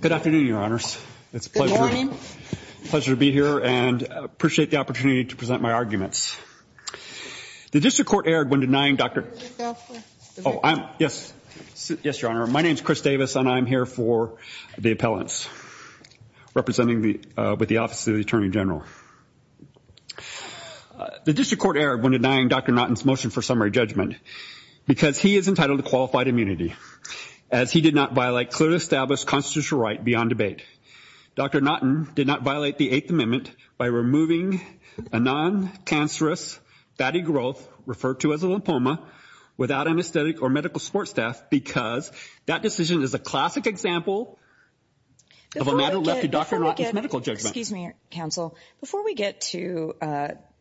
Good afternoon, Your Honors. It's a pleasure to be here and appreciate the opportunity to present my arguments. The District Court erred when denying Dr. Oh, I'm, yes, yes, Your Honor. My name's Chris Davis and I'm here for the appellants, representing the, with the Office of the Attorney General. The District Court erred when denying Dr. Naughton's motion for summary judgment because he is entitled to qualified immunity as he did not violate clearly established constitutional right beyond debate. Dr. Naughton did not violate the Eighth Amendment by removing a non-cancerous fatty growth, referred to as a lymphoma, without anesthetic or medical support staff because that decision is a classic example of a matter left to Dr. Naughton's medical judgment. Excuse me, counsel. Before we get to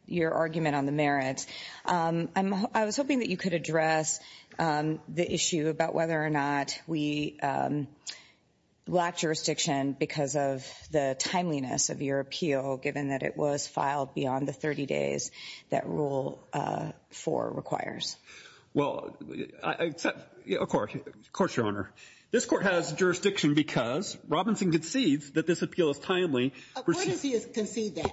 your argument on the merits, I'm, I was hoping that you could address the issue about whether or not we lacked jurisdiction because of the timeliness of your appeal, given that it was filed beyond the 30 days that Rule 4 requires. Well, I, of course, of course, Your Honor. This Court has jurisdiction because Robinson concedes that this appeal is timely. But where does he concede that?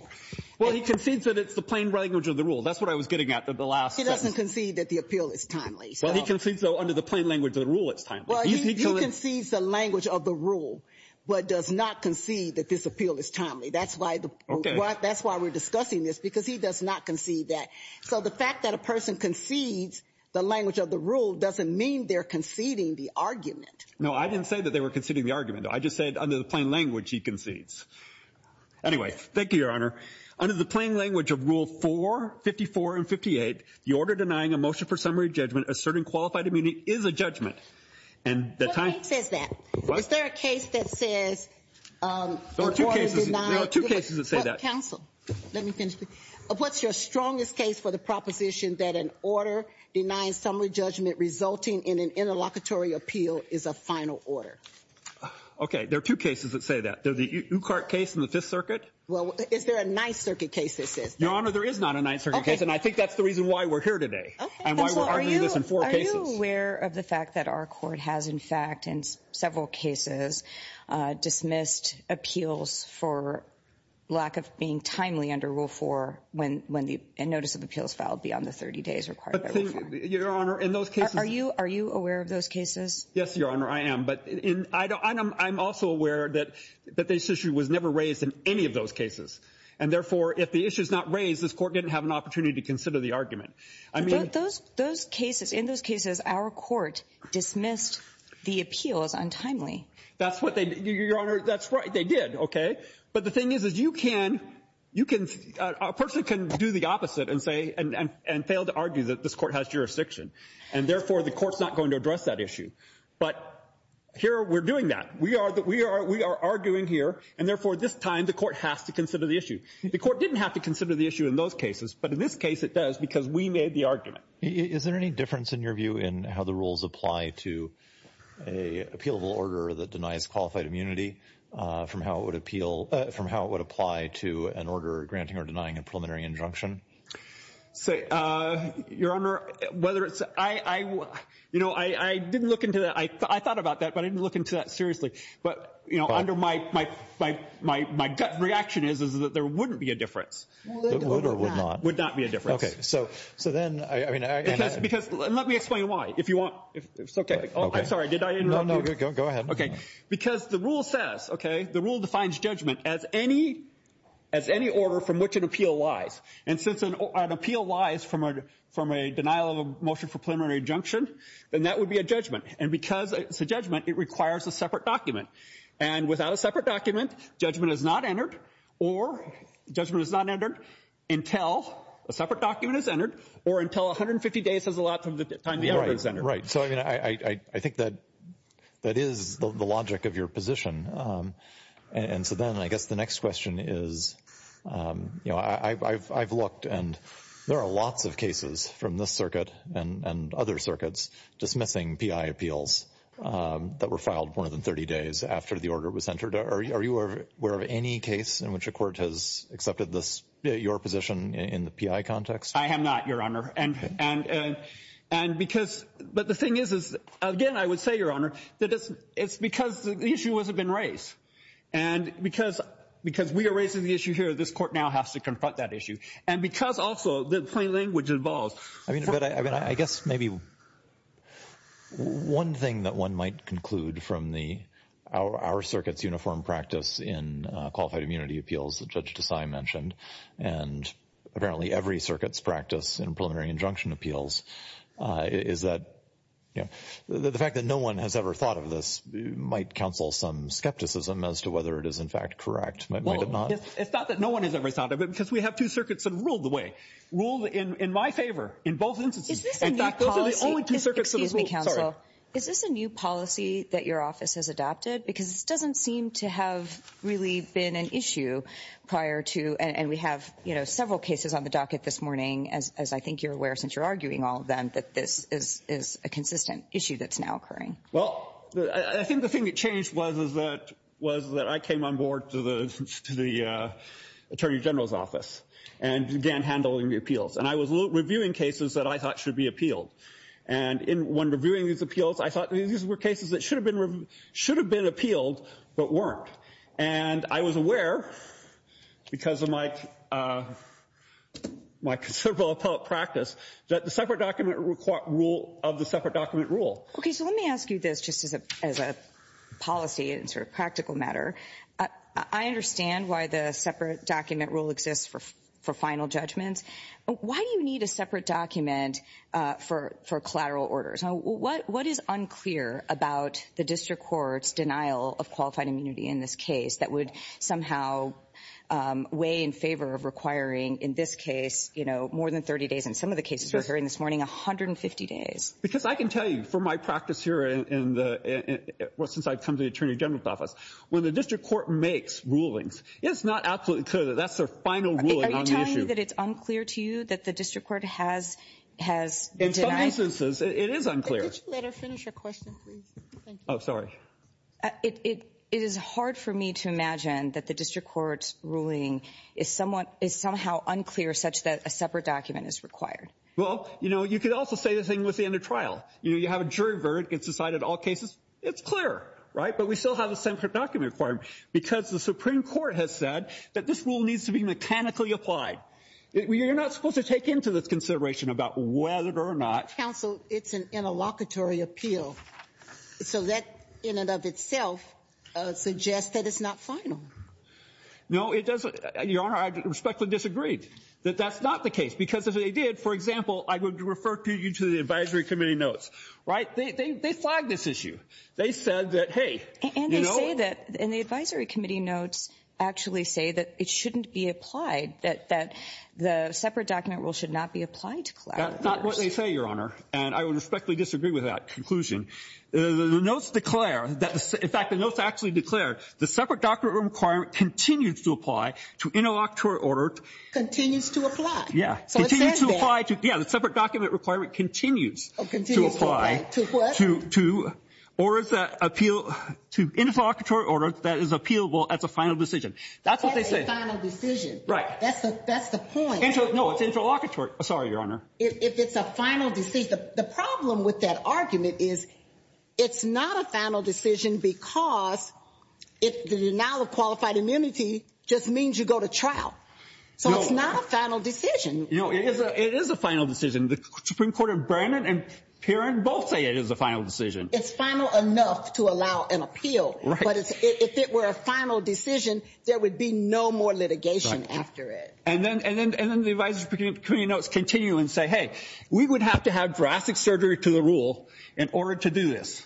Well, he concedes that it's the plain language of the rule. That's what I was getting at in the last sentence. He doesn't concede that the appeal is timely. Well, he concedes, though, under the plain language of the rule it's timely. Well, he concedes the language of the rule, but does not concede that this appeal is timely. That's why the, that's why we're discussing this, because he does not concede that. So the fact that a person concedes the language of the rule doesn't mean they're conceding the argument. No, I didn't say that they were conceding the argument. I just said under the plain language he concedes. Anyway, thank you, Your Honor. Under the plain language of Rule 4, 54, and 58, the order denying a motion for summary judgment asserting qualified immunity is a judgment. And the time. What makes that? Is there a case that says, um, the order denied. There are two cases that say that. Counsel, let me finish. What's your strongest case for the proposition that an order denying summary judgment resulting in an interlocutory appeal is a final order? Okay, there are two cases that say that. There's the Ucart case in the Fifth Circuit. Well, is there a Ninth Circuit case that says that? Your Honor, there is not a Ninth Circuit case, and I think that's the reason why we're here today. Okay. And why we're arguing this in four cases. Are you aware of the fact that our court has, in fact, in several cases, uh, dismissed appeals for lack of being timely under Rule 4 when, when the notice of appeals filed beyond the 30 days required by Rule 4. Your Honor, in those cases. Are you, are you aware of those cases? Yes, Your Honor, I am. But in, I don't, I'm also aware that, that this issue was never raised in any of those cases. And therefore, if the issue is not raised, this court didn't have an opportunity to consider the argument. I mean. But those, those cases, in those cases, our court dismissed the appeals untimely. That's what they, Your Honor, that's right, they did. Okay. But the thing is, is you can, you can, a person can do the opposite and say, and, and, and fail to argue that this court has jurisdiction. And therefore, the court's not going to address that issue. But here, we're doing that. We are, we are, we are arguing here. And therefore, this time, the court has to consider the issue. The court didn't have to consider the issue in those cases. But in this case, it does, because we made the argument. Is there any difference in your view in how the rules apply to a appealable order that denies qualified immunity from how it would appeal, from how it would apply to an order granting or denying a preliminary injunction? Your Honor, whether it's, I, I, you know, I, I didn't look into that. I, I thought about that, but I didn't look into that seriously. But, you know, under my, my, my, my, my gut reaction is, is that there wouldn't be a difference. Would or would not? Would not be a difference. Okay. So, so then, I, I mean, I, I. Because, because, let me explain why. If you want, if, it's okay. Oh, I'm sorry. Did I interrupt you? No, no, go, go ahead. Okay. Because the rule says, okay, the rule defines judgment as any, as any order from which an appeal lies. And since an, an appeal lies from a, from a denial of a motion for preliminary injunction, then that would be a judgment. And because it's a judgment, it requires a separate document. And without a separate document, judgment is not entered or judgment is not entered until a separate document is entered or until 150 days is allowed from the time the order is entered. Right, right. So, I mean, I, I, I think that, that is the logic of your position. And so then I guess the next question is, you know, I, I've, I've looked and there are lots of cases from this circuit and, and other circuits dismissing PI appeals that were filed more than 30 days after the order was entered. Are, are you aware of any case in which a court has accepted this, your position in the PI context? I am not, Your Honor. And, and, and because, but the thing is, is again, I would say, Your Honor, that it's, it's because the issue hasn't been raised. And because, because we are raising the issue here, this court now has to confront that issue. And because also the plain language involves. I mean, but I, I mean, I guess maybe one thing that one might conclude from the, our, our circuit's uniform practice in qualified immunity appeals that Judge Desai mentioned, and apparently every circuit's practice in preliminary injunction appeals, is that, you know, the fact that no one has ever thought of this might counsel some skepticism as to whether it is in fact correct, might it not? Well, it's, it's not that no one has ever thought of it because we have two circuits that ruled the way, ruled in my favor in both instances. Is this a new policy? In fact, those are the only two circuits that have ruled. Excuse me, counsel. Sorry. Is this a new policy that your office has adopted? Because it doesn't seem to have really been an issue prior to, and we have, you know, several cases on the docket this morning, as, as I think you're aware, since you're arguing all of them, that this is, is a consistent issue that's now occurring. Well, I think the thing that changed was, is that, was that I came on board to the, to the Attorney General's office and began handling the appeals. And I was reviewing cases that I thought should be appealed. And in, when reviewing these appeals, I thought these were cases that should have been, should have been appealed, but weren't. And I was aware, because of my, my considerable appellate practice, that the separate document required rule of the separate document rule. Okay. So let me ask you this, just as a, as a policy and sort of practical matter. I understand why the separate document rule exists for, for final judgments. Why do you need a separate document for, for collateral orders? What, what is unclear about the district court's denial of qualified immunity in this case that would somehow weigh in favor of requiring, in this case, you know, more than 30 days, in some of the cases we're hearing this morning, 150 days? Because I can tell you, from my practice here in the, well, since I've come to the Attorney General's office, when the district court makes rulings, it's not absolutely clear that that's their final ruling on the issue. Are you telling me that it's unclear to you that the district court has, has denied? In some instances, it is unclear. Could you let her finish her question, please? Thank you. Oh, sorry. It, it, it is hard for me to imagine that the district court's ruling is somewhat, is somehow unclear such that a separate document is required. Well, you know, you could also say the same thing with the end of trial. You know, you have a jury verdict. It's decided all cases. It's clear, right? But we still have a separate document required because the Supreme Court has said that this rule needs to be mechanically applied. You're not supposed to take into this consideration about whether or not— Counsel, it's an interlocutory appeal. So that, in and of itself, suggests that it's not final. No, it doesn't. Your Honor, I respectfully disagreed that that's not the case because if they did, for example, I would refer you to the advisory committee notes, right? They, they flagged this issue. They said that, hey, you know— And they say that, and the advisory committee notes actually say that it shouldn't be applied, that, that the separate document rule should not be applied to collaborators. That's not what they say, Your Honor, and I would respectfully disagree with that conclusion. The notes declare that, in fact, the notes actually declare the separate document requirement continues to apply to interlocutory order— Continues to apply. Yeah. So it says there— Yeah, the separate document requirement continues to apply— Oh, continues to apply to what? To, to orders that appeal to interlocutory order that is appealable as a final decision. That's what they said. Right. That's the, that's the point. No, it's interlocutory. Sorry, Your Honor. If, if it's a final decision. The, the problem with that argument is it's not a final decision because it, the denial of qualified immunity just means you go to trial. So it's not a final decision. No, it is a, it is a final decision. The Supreme Court of Brennan and Perin both say it is a final decision. It's final enough to allow an appeal. Right. But it's, if it were a final decision, there would be no more litigation after it. Right. And then, and then, and then the advisory committee notes continue and say, hey, we would have to have drastic surgery to the rule in order to do this.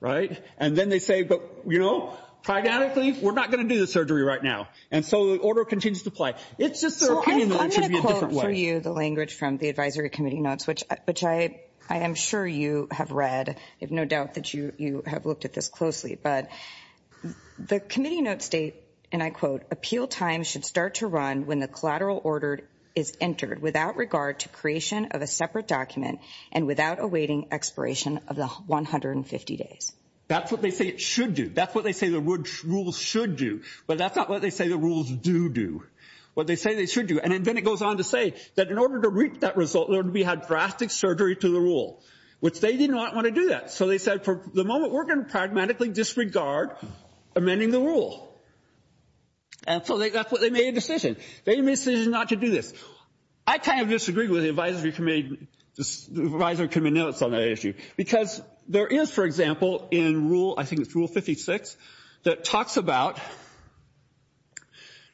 Right? And then they say, but, you know, pragmatically, we're not going to do the surgery right now. And so the order continues to apply. It's just their opinion that it should be a different way. Let me show you the language from the advisory committee notes, which, which I, I am sure you have read. I have no doubt that you, you have looked at this closely. But the committee notes state, and I quote, appeal time should start to run when the collateral order is entered without regard to creation of a separate document and without awaiting expiration of the 150 days. That's what they say it should do. That's what they say the rules should do. But that's not what they say the rules do do. What they say they should do. And then it goes on to say that in order to reach that result, we had drastic surgery to the rule, which they did not want to do that. So they said, for the moment, we're going to pragmatically disregard amending the rule. And so they, that's what they made a decision. They made a decision not to do this. I kind of disagree with the advisory committee, the advisory committee notes on that issue. Because there is, for example, in rule, I think it's rule 56, that talks about,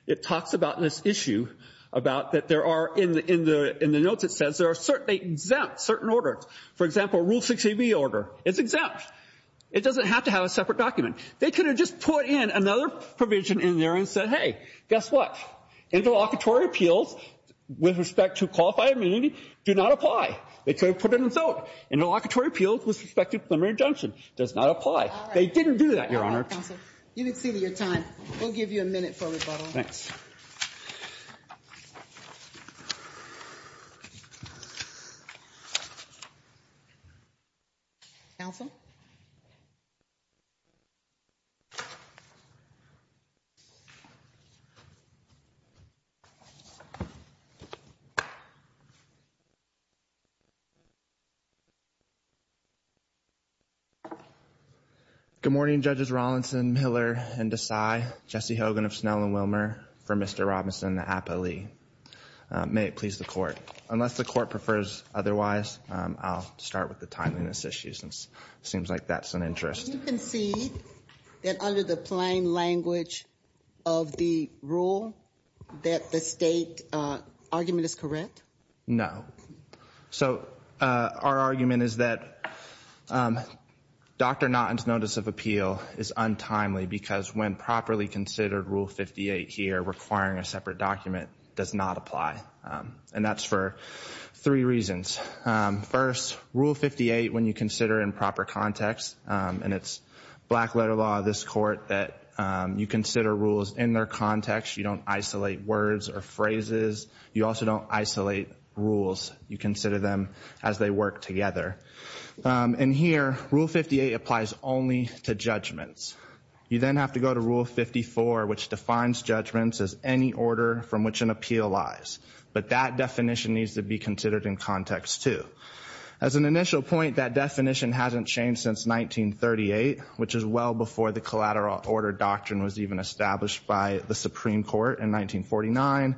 it talks about that there are, in the notes it says, there are exempt certain orders. For example, rule 68B order, it's exempt. It doesn't have to have a separate document. They could have just put in another provision in there and said, hey, guess what? Interlocutory appeals with respect to qualified immunity do not apply. They could have put it in vote. Interlocutory appeals with respect to preliminary injunction does not apply. They didn't do that, Your Honor. All right, counsel. You've exceeded your time. We'll give you a minute for rebuttal. Thanks. Counsel? Good morning, Judges Rawlinson, Miller, and Desai, Jesse Hogan of Snell and Wilmer, for Mr. Robinson, the APA Lee. May it please the court. Unless the court prefers otherwise, I'll start with the timeliness issue since it seems like that's an interest. You concede that under the plain language of the rule, that the state argument is correct? No. So, our argument is that Dr. Naughton's notice of appeal is untimely because when properly considered, rule 58 here, requiring a separate document, does not apply. And that's for three reasons. First, rule 58, when you consider in proper context, and it's black letter law, this court, that you consider rules in their context. You don't isolate words or phrases. You also don't isolate rules. You consider them as they work together. And here, rule 58 applies only to judgments. You then have to go to rule 54, which defines judgments as any order from which an appeal lies. But that definition needs to be considered in context, too. As an initial point, that definition hasn't changed since 1938, which is well before the collateral order doctrine was even established by the Supreme Court in 1949.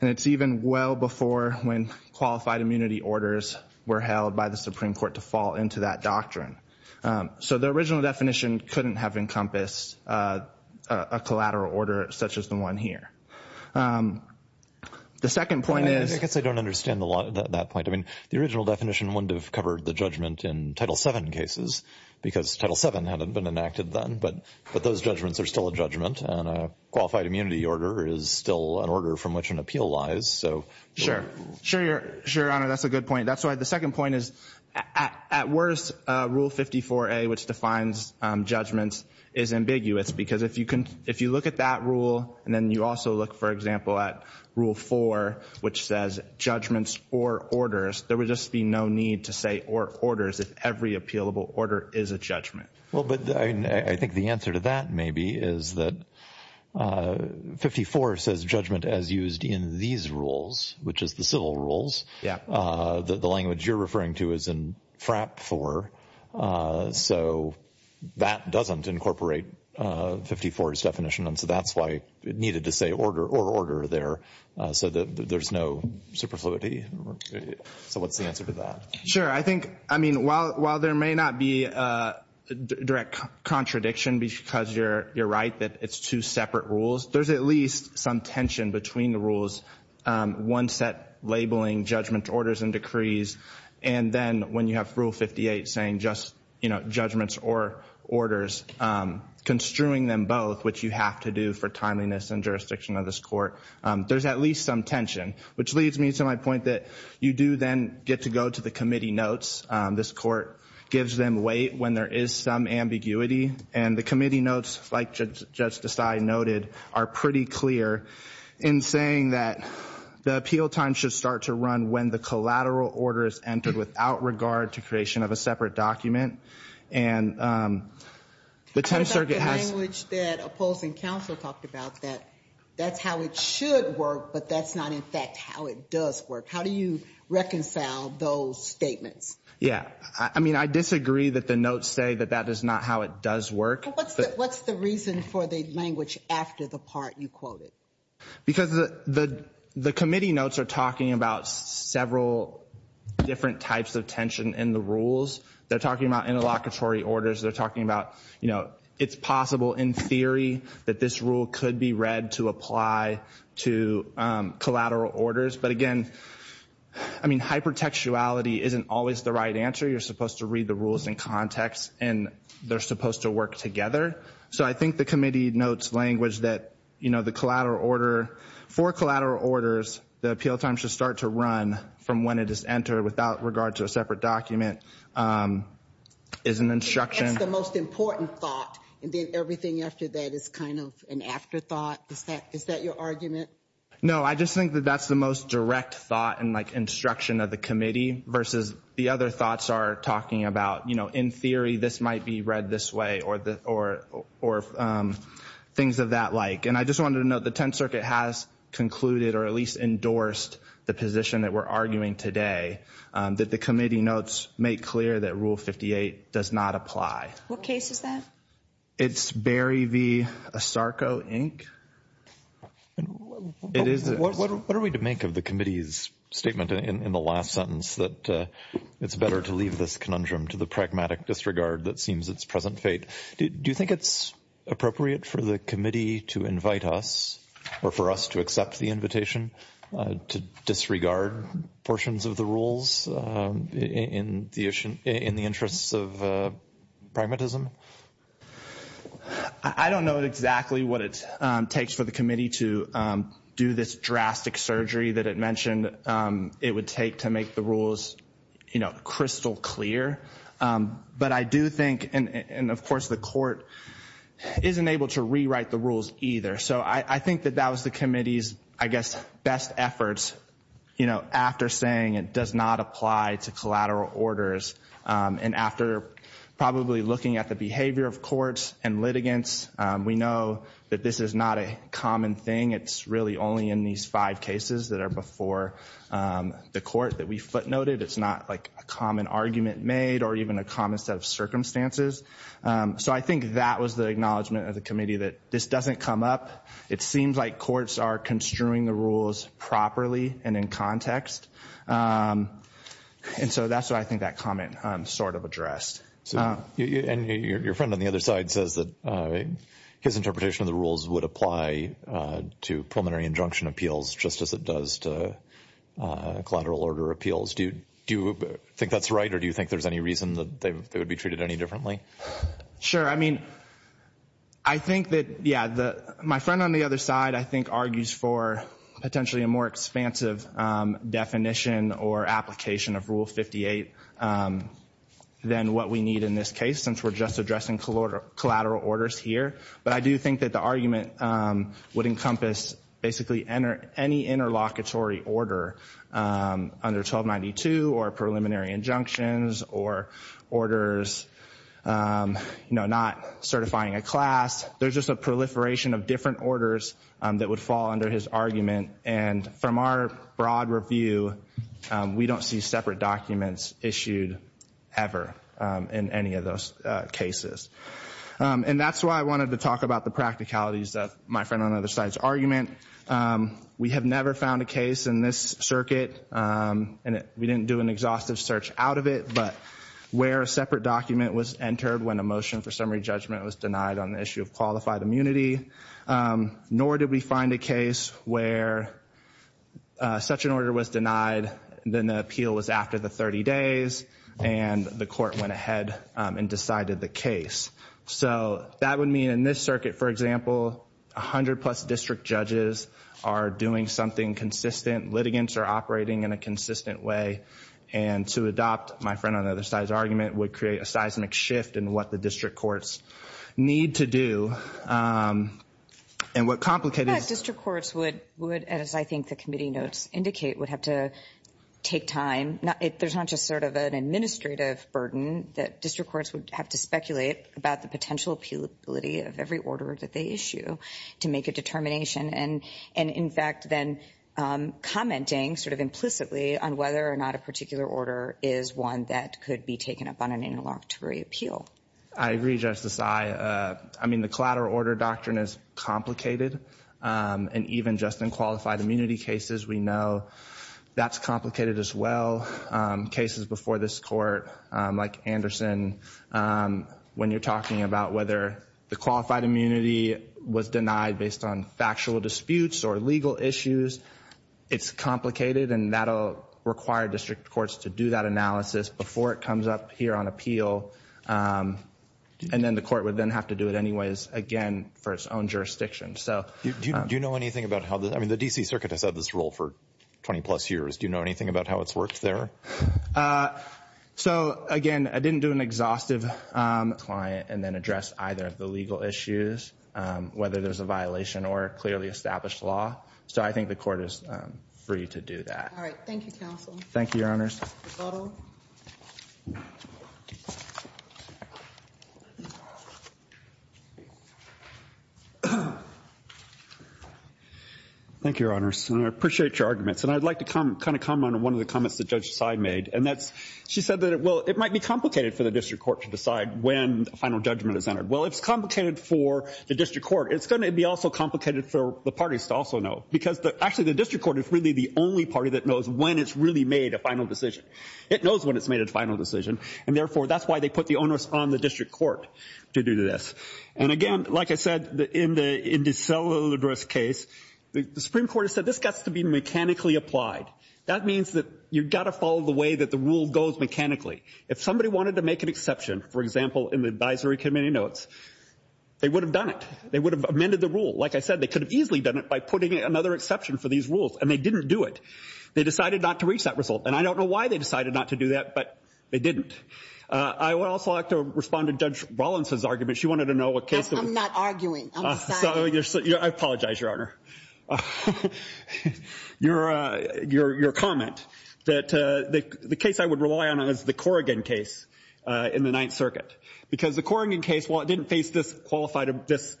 And it's even well before when qualified immunity orders were held by the Supreme Court to fall into that doctrine. So, the original definition couldn't have encompassed a collateral order such as the one here. The second point is... I guess I don't understand a lot of that point. I mean, the original definition wouldn't have covered the judgment in Title VII cases because Title VII hadn't been enacted then. But those judgments are still a judgment, and a qualified immunity order is still an order from which an appeal lies. Sure. Sure, Your Honor. That's a good point. The second point is, at worst, Rule 54A, which defines judgments, is ambiguous. Because if you look at that rule, and then you also look, for example, at Rule 4, which says judgments or orders, there would just be no need to say or orders if every appealable order is a judgment. Well, but I think the answer to that maybe is that 54 says judgment as used in these rules, which is the civil rules. Yeah. The language you're referring to is in FRAP 4. So, that doesn't incorporate 54's definition, and so that's why it needed to say order or order there so that there's no superfluity. So, what's the answer to that? Sure. I think, I mean, while there may not be a direct contradiction because you're right that it's two separate rules, there's at least some tension between the rules, one set labeling judgment, orders, and decrees, and then when you have Rule 58 saying just, you know, judgments or orders, construing them both, which you have to do for timeliness and jurisdiction of this court, there's at least some tension, which leads me to my point that you do then get to go to the committee notes. This court gives them weight when there is some ambiguity, and the committee notes, like Judge Desai noted, are pretty clear in saying that the appeal time should start to run when the collateral order is entered without regard to creation of a separate document, and the 10th Circuit has... The language that opposing counsel talked about, that that's how it should work, but that's not, in fact, how it does work. How do you reconcile those statements? Yeah. I mean, I disagree that the notes say that that is not how it does work. What's the reason for the language after the part you quoted? Because the committee notes are talking about several different types of tension in the rules. They're talking about interlocutory orders, they're talking about, you know, it's possible in theory that this rule could be read to apply to collateral orders, but again, I mean, hypertextuality isn't always the right answer. You're supposed to read the rules in context, and they're supposed to work together. So I think the committee notes language that, you know, the collateral order, for collateral orders, the appeal time should start to run from when it is entered without regard to a separate document is an instruction. That's the most important thought, and then everything after that is kind of an afterthought? Is that your argument? No, I just think that that's the most direct thought and, like, instruction of the committee versus the other thoughts are talking about, you know, in theory this might be read this way or things of that like. And I just wanted to note the Tenth Circuit has concluded or at least endorsed the position that we're arguing today that the committee notes make clear that Rule 58 does not apply. What case is that? It's Berry v. Asarco, Inc. It is. What are we to make of the committee's statement in the last sentence that it's better to leave this conundrum to the pragmatic disregard that seems its present fate? Do you think it's appropriate for the committee to invite us or for us to accept the invitation to disregard portions of the rules in the interests of pragmatism? I don't know exactly what it takes for the committee to do this drastic surgery that it mentioned it would take to make the rules, you know, crystal clear. But I do think, and of course the Court isn't able to rewrite the rules either. So I think that that was the committee's, I guess, best efforts, you know, after saying it does not apply to collateral orders and after probably looking at the behavior of courts and litigants, we know that this is not a common thing. It's really only in these five cases that are before the Court that we footnoted. It's not, like, a common argument made or even a common set of circumstances. So I think that was the acknowledgement of the committee that this doesn't come up. It seems like courts are construing the rules properly and in context. And so that's what I think that comment sort of addressed. And your friend on the other side says that his interpretation of the rules would apply to preliminary injunction appeals just as it does to collateral order appeals. Do you think that's right or do you think there's any reason that they would be treated any differently? Sure. I mean, I think that, yeah, my friend on the other side, I think, argues for potentially a more expansive definition or application of Rule 58 than what we need in this case since we're just addressing collateral orders here. But I do think that the argument would encompass basically any interlocutory order under 1292 or preliminary injunctions or orders not certifying a class. There's just a proliferation of different orders that would fall under his argument. And from our broad review, we don't see separate documents issued ever in any of those cases. And that's why I wanted to talk about the practicalities of my friend on the other side's argument. We have never found a case in this circuit and we didn't do an exhaustive search out of it but where a separate document was entered when a motion for summary judgment was denied on the issue of qualified immunity nor did we find a case where such an order was denied then the appeal was after the 30 days and the court went ahead and decided the case. So that would mean in this circuit, for example, 100 plus district judges are doing something consistent, litigants are operating in a consistent way and to adopt my friend on the other side's argument would create a seismic shift in what the district courts need to do. And what complicated... I think district courts would, as I think the committee notes indicate, would have to take time. There's not just sort of an administrative burden that district courts would have to speculate about the potential appealability of every order that they issue to make a determination. And in fact then commenting sort of implicitly on whether or not a particular order is one that could be taken up on an interlocutory appeal. I agree, Justice. I mean the collateral order doctrine is complicated and even just in qualified immunity cases we know that's complicated as well. Cases before this court like Anderson when you're talking about whether the qualified immunity was denied based on factual disputes or legal issues it's complicated and that'll require district courts to do that analysis before it comes up here on appeal and then the court would then have to do it anyways again for its own jurisdiction. Do you know anything about how... I mean the D.C. Circuit has had this role for 20 plus years. Do you know anything about how it's worked there? So again, I didn't do an exhaustive client and then address either of the legal issues whether there's a violation or clearly established law so I think the court is free to do that. Thank you, Counsel. Thank you, Your Honors. Thank you, Your Honors. I appreciate your arguments and I'd like to comment on one of the comments that Judge Seid made and that's she said that it might be complicated for the district court to decide when a final judgment is entered well if it's complicated for the district court it's going to be also complicated for the parties to also know because actually the district court is really the only party that knows when it's really made a final decision it knows when it's made a final decision and therefore that's why they put the onus on the district court to do this and again, like I said, in DeSaludra's case the Supreme Court has said this has to be mechanically applied that means that you've got to follow the way that the rule goes mechanically if somebody wanted to make an exception, for example in the advisory committee notes, they would have done it they would have amended the rule like I said, they could have easily done it by putting another exception for these rules and they didn't do it. They decided not to reach that result and I don't know why they decided not to do that, but they didn't I would also like to respond to Judge Rollins' argument I'm not arguing, I'm deciding I apologize, Your Honor your comment the case I would rely on is the Corrigan case in the Ninth Circuit because the Corrigan case, while it didn't face this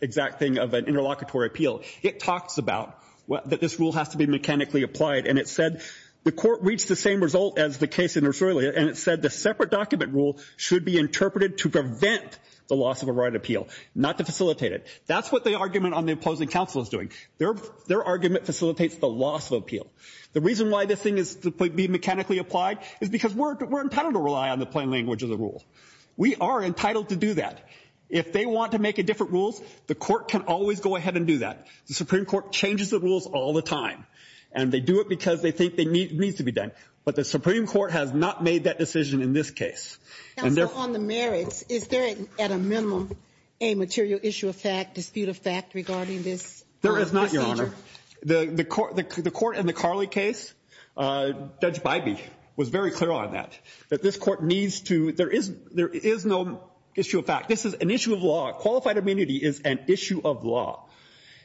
exact thing of an interlocutory appeal it talks about that this rule has to be mechanically applied and it said, the court reached the same result as the case in Rosario and it said the separate document rule should be interpreted to prevent the loss of a right appeal not to facilitate it. That's what the argument on the opposing counsel is doing their argument facilitates the loss of appeal the reason why this thing is to be mechanically applied is because we're entitled to rely on the plain language of the rule we are entitled to do that if they want to make different rules, the court can always go ahead and do that the Supreme Court changes the rules all the time and they do it because they think it needs to be done but the Supreme Court has not made that decision in this case Counsel, on the merits, is there at a minimum a material issue of fact, dispute of fact regarding this there is not, Your Honor the court in the Carley case Judge Bybee was very clear on that that this court needs to, there is no issue of fact, this is an issue of law qualified amenity is an issue of law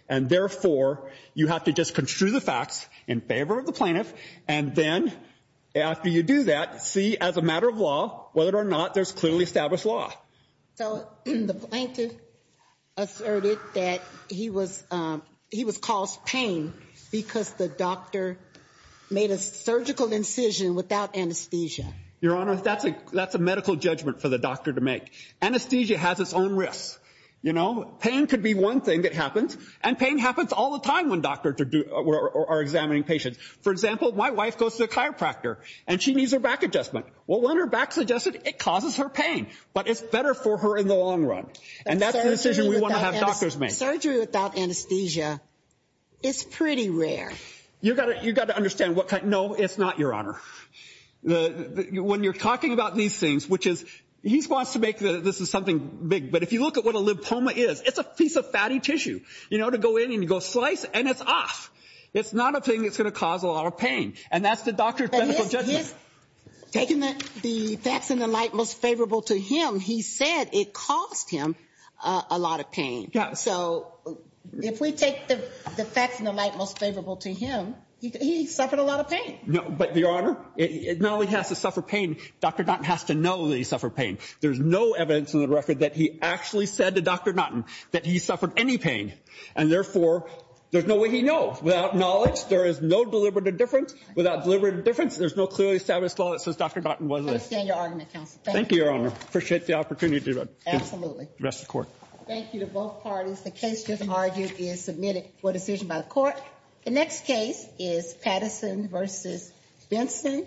and therefore, you have to just construe the facts in favor of the plaintiff, and then after you do that, see as a matter of law whether or not there's clearly established law So, the plaintiff asserted that he was caused pain because the doctor made a surgical incision without anesthesia Your Honor, that's a medical judgment for the doctor to make anesthesia has its own risks, you know pain could be one thing that happens, and pain happens all the time when doctors are examining patients, for example my wife goes to the chiropractor, and she needs her back adjusted well, when her back's adjusted, it causes her pain but it's better for her in the long run surgery without anesthesia is pretty rare no, it's not, Your Honor when you're talking about these things he wants to make this something big, but if you look at what a lipoma is it's a piece of fatty tissue, you know, to go in and go slice and it's off, it's not a thing that's going to cause a lot of pain and that's the doctor's medical judgment taking the facts in the light most favorable to him he said it caused him a lot of pain so, if we take the facts in the light most favorable to him, he suffered a lot of pain no, but Your Honor, it not only has to suffer pain Dr. Naughton has to know that he suffered pain there's no evidence in the record that he actually said to Dr. Naughton that he suffered any pain, and therefore there's no way he knows, without knowledge there is no deliberate difference there's no clearly established law that says Dr. Naughton was there thank you, Your Honor, appreciate the opportunity thank you to both parties the case just argued is submitted for decision by the court the next case is Patterson v. Benson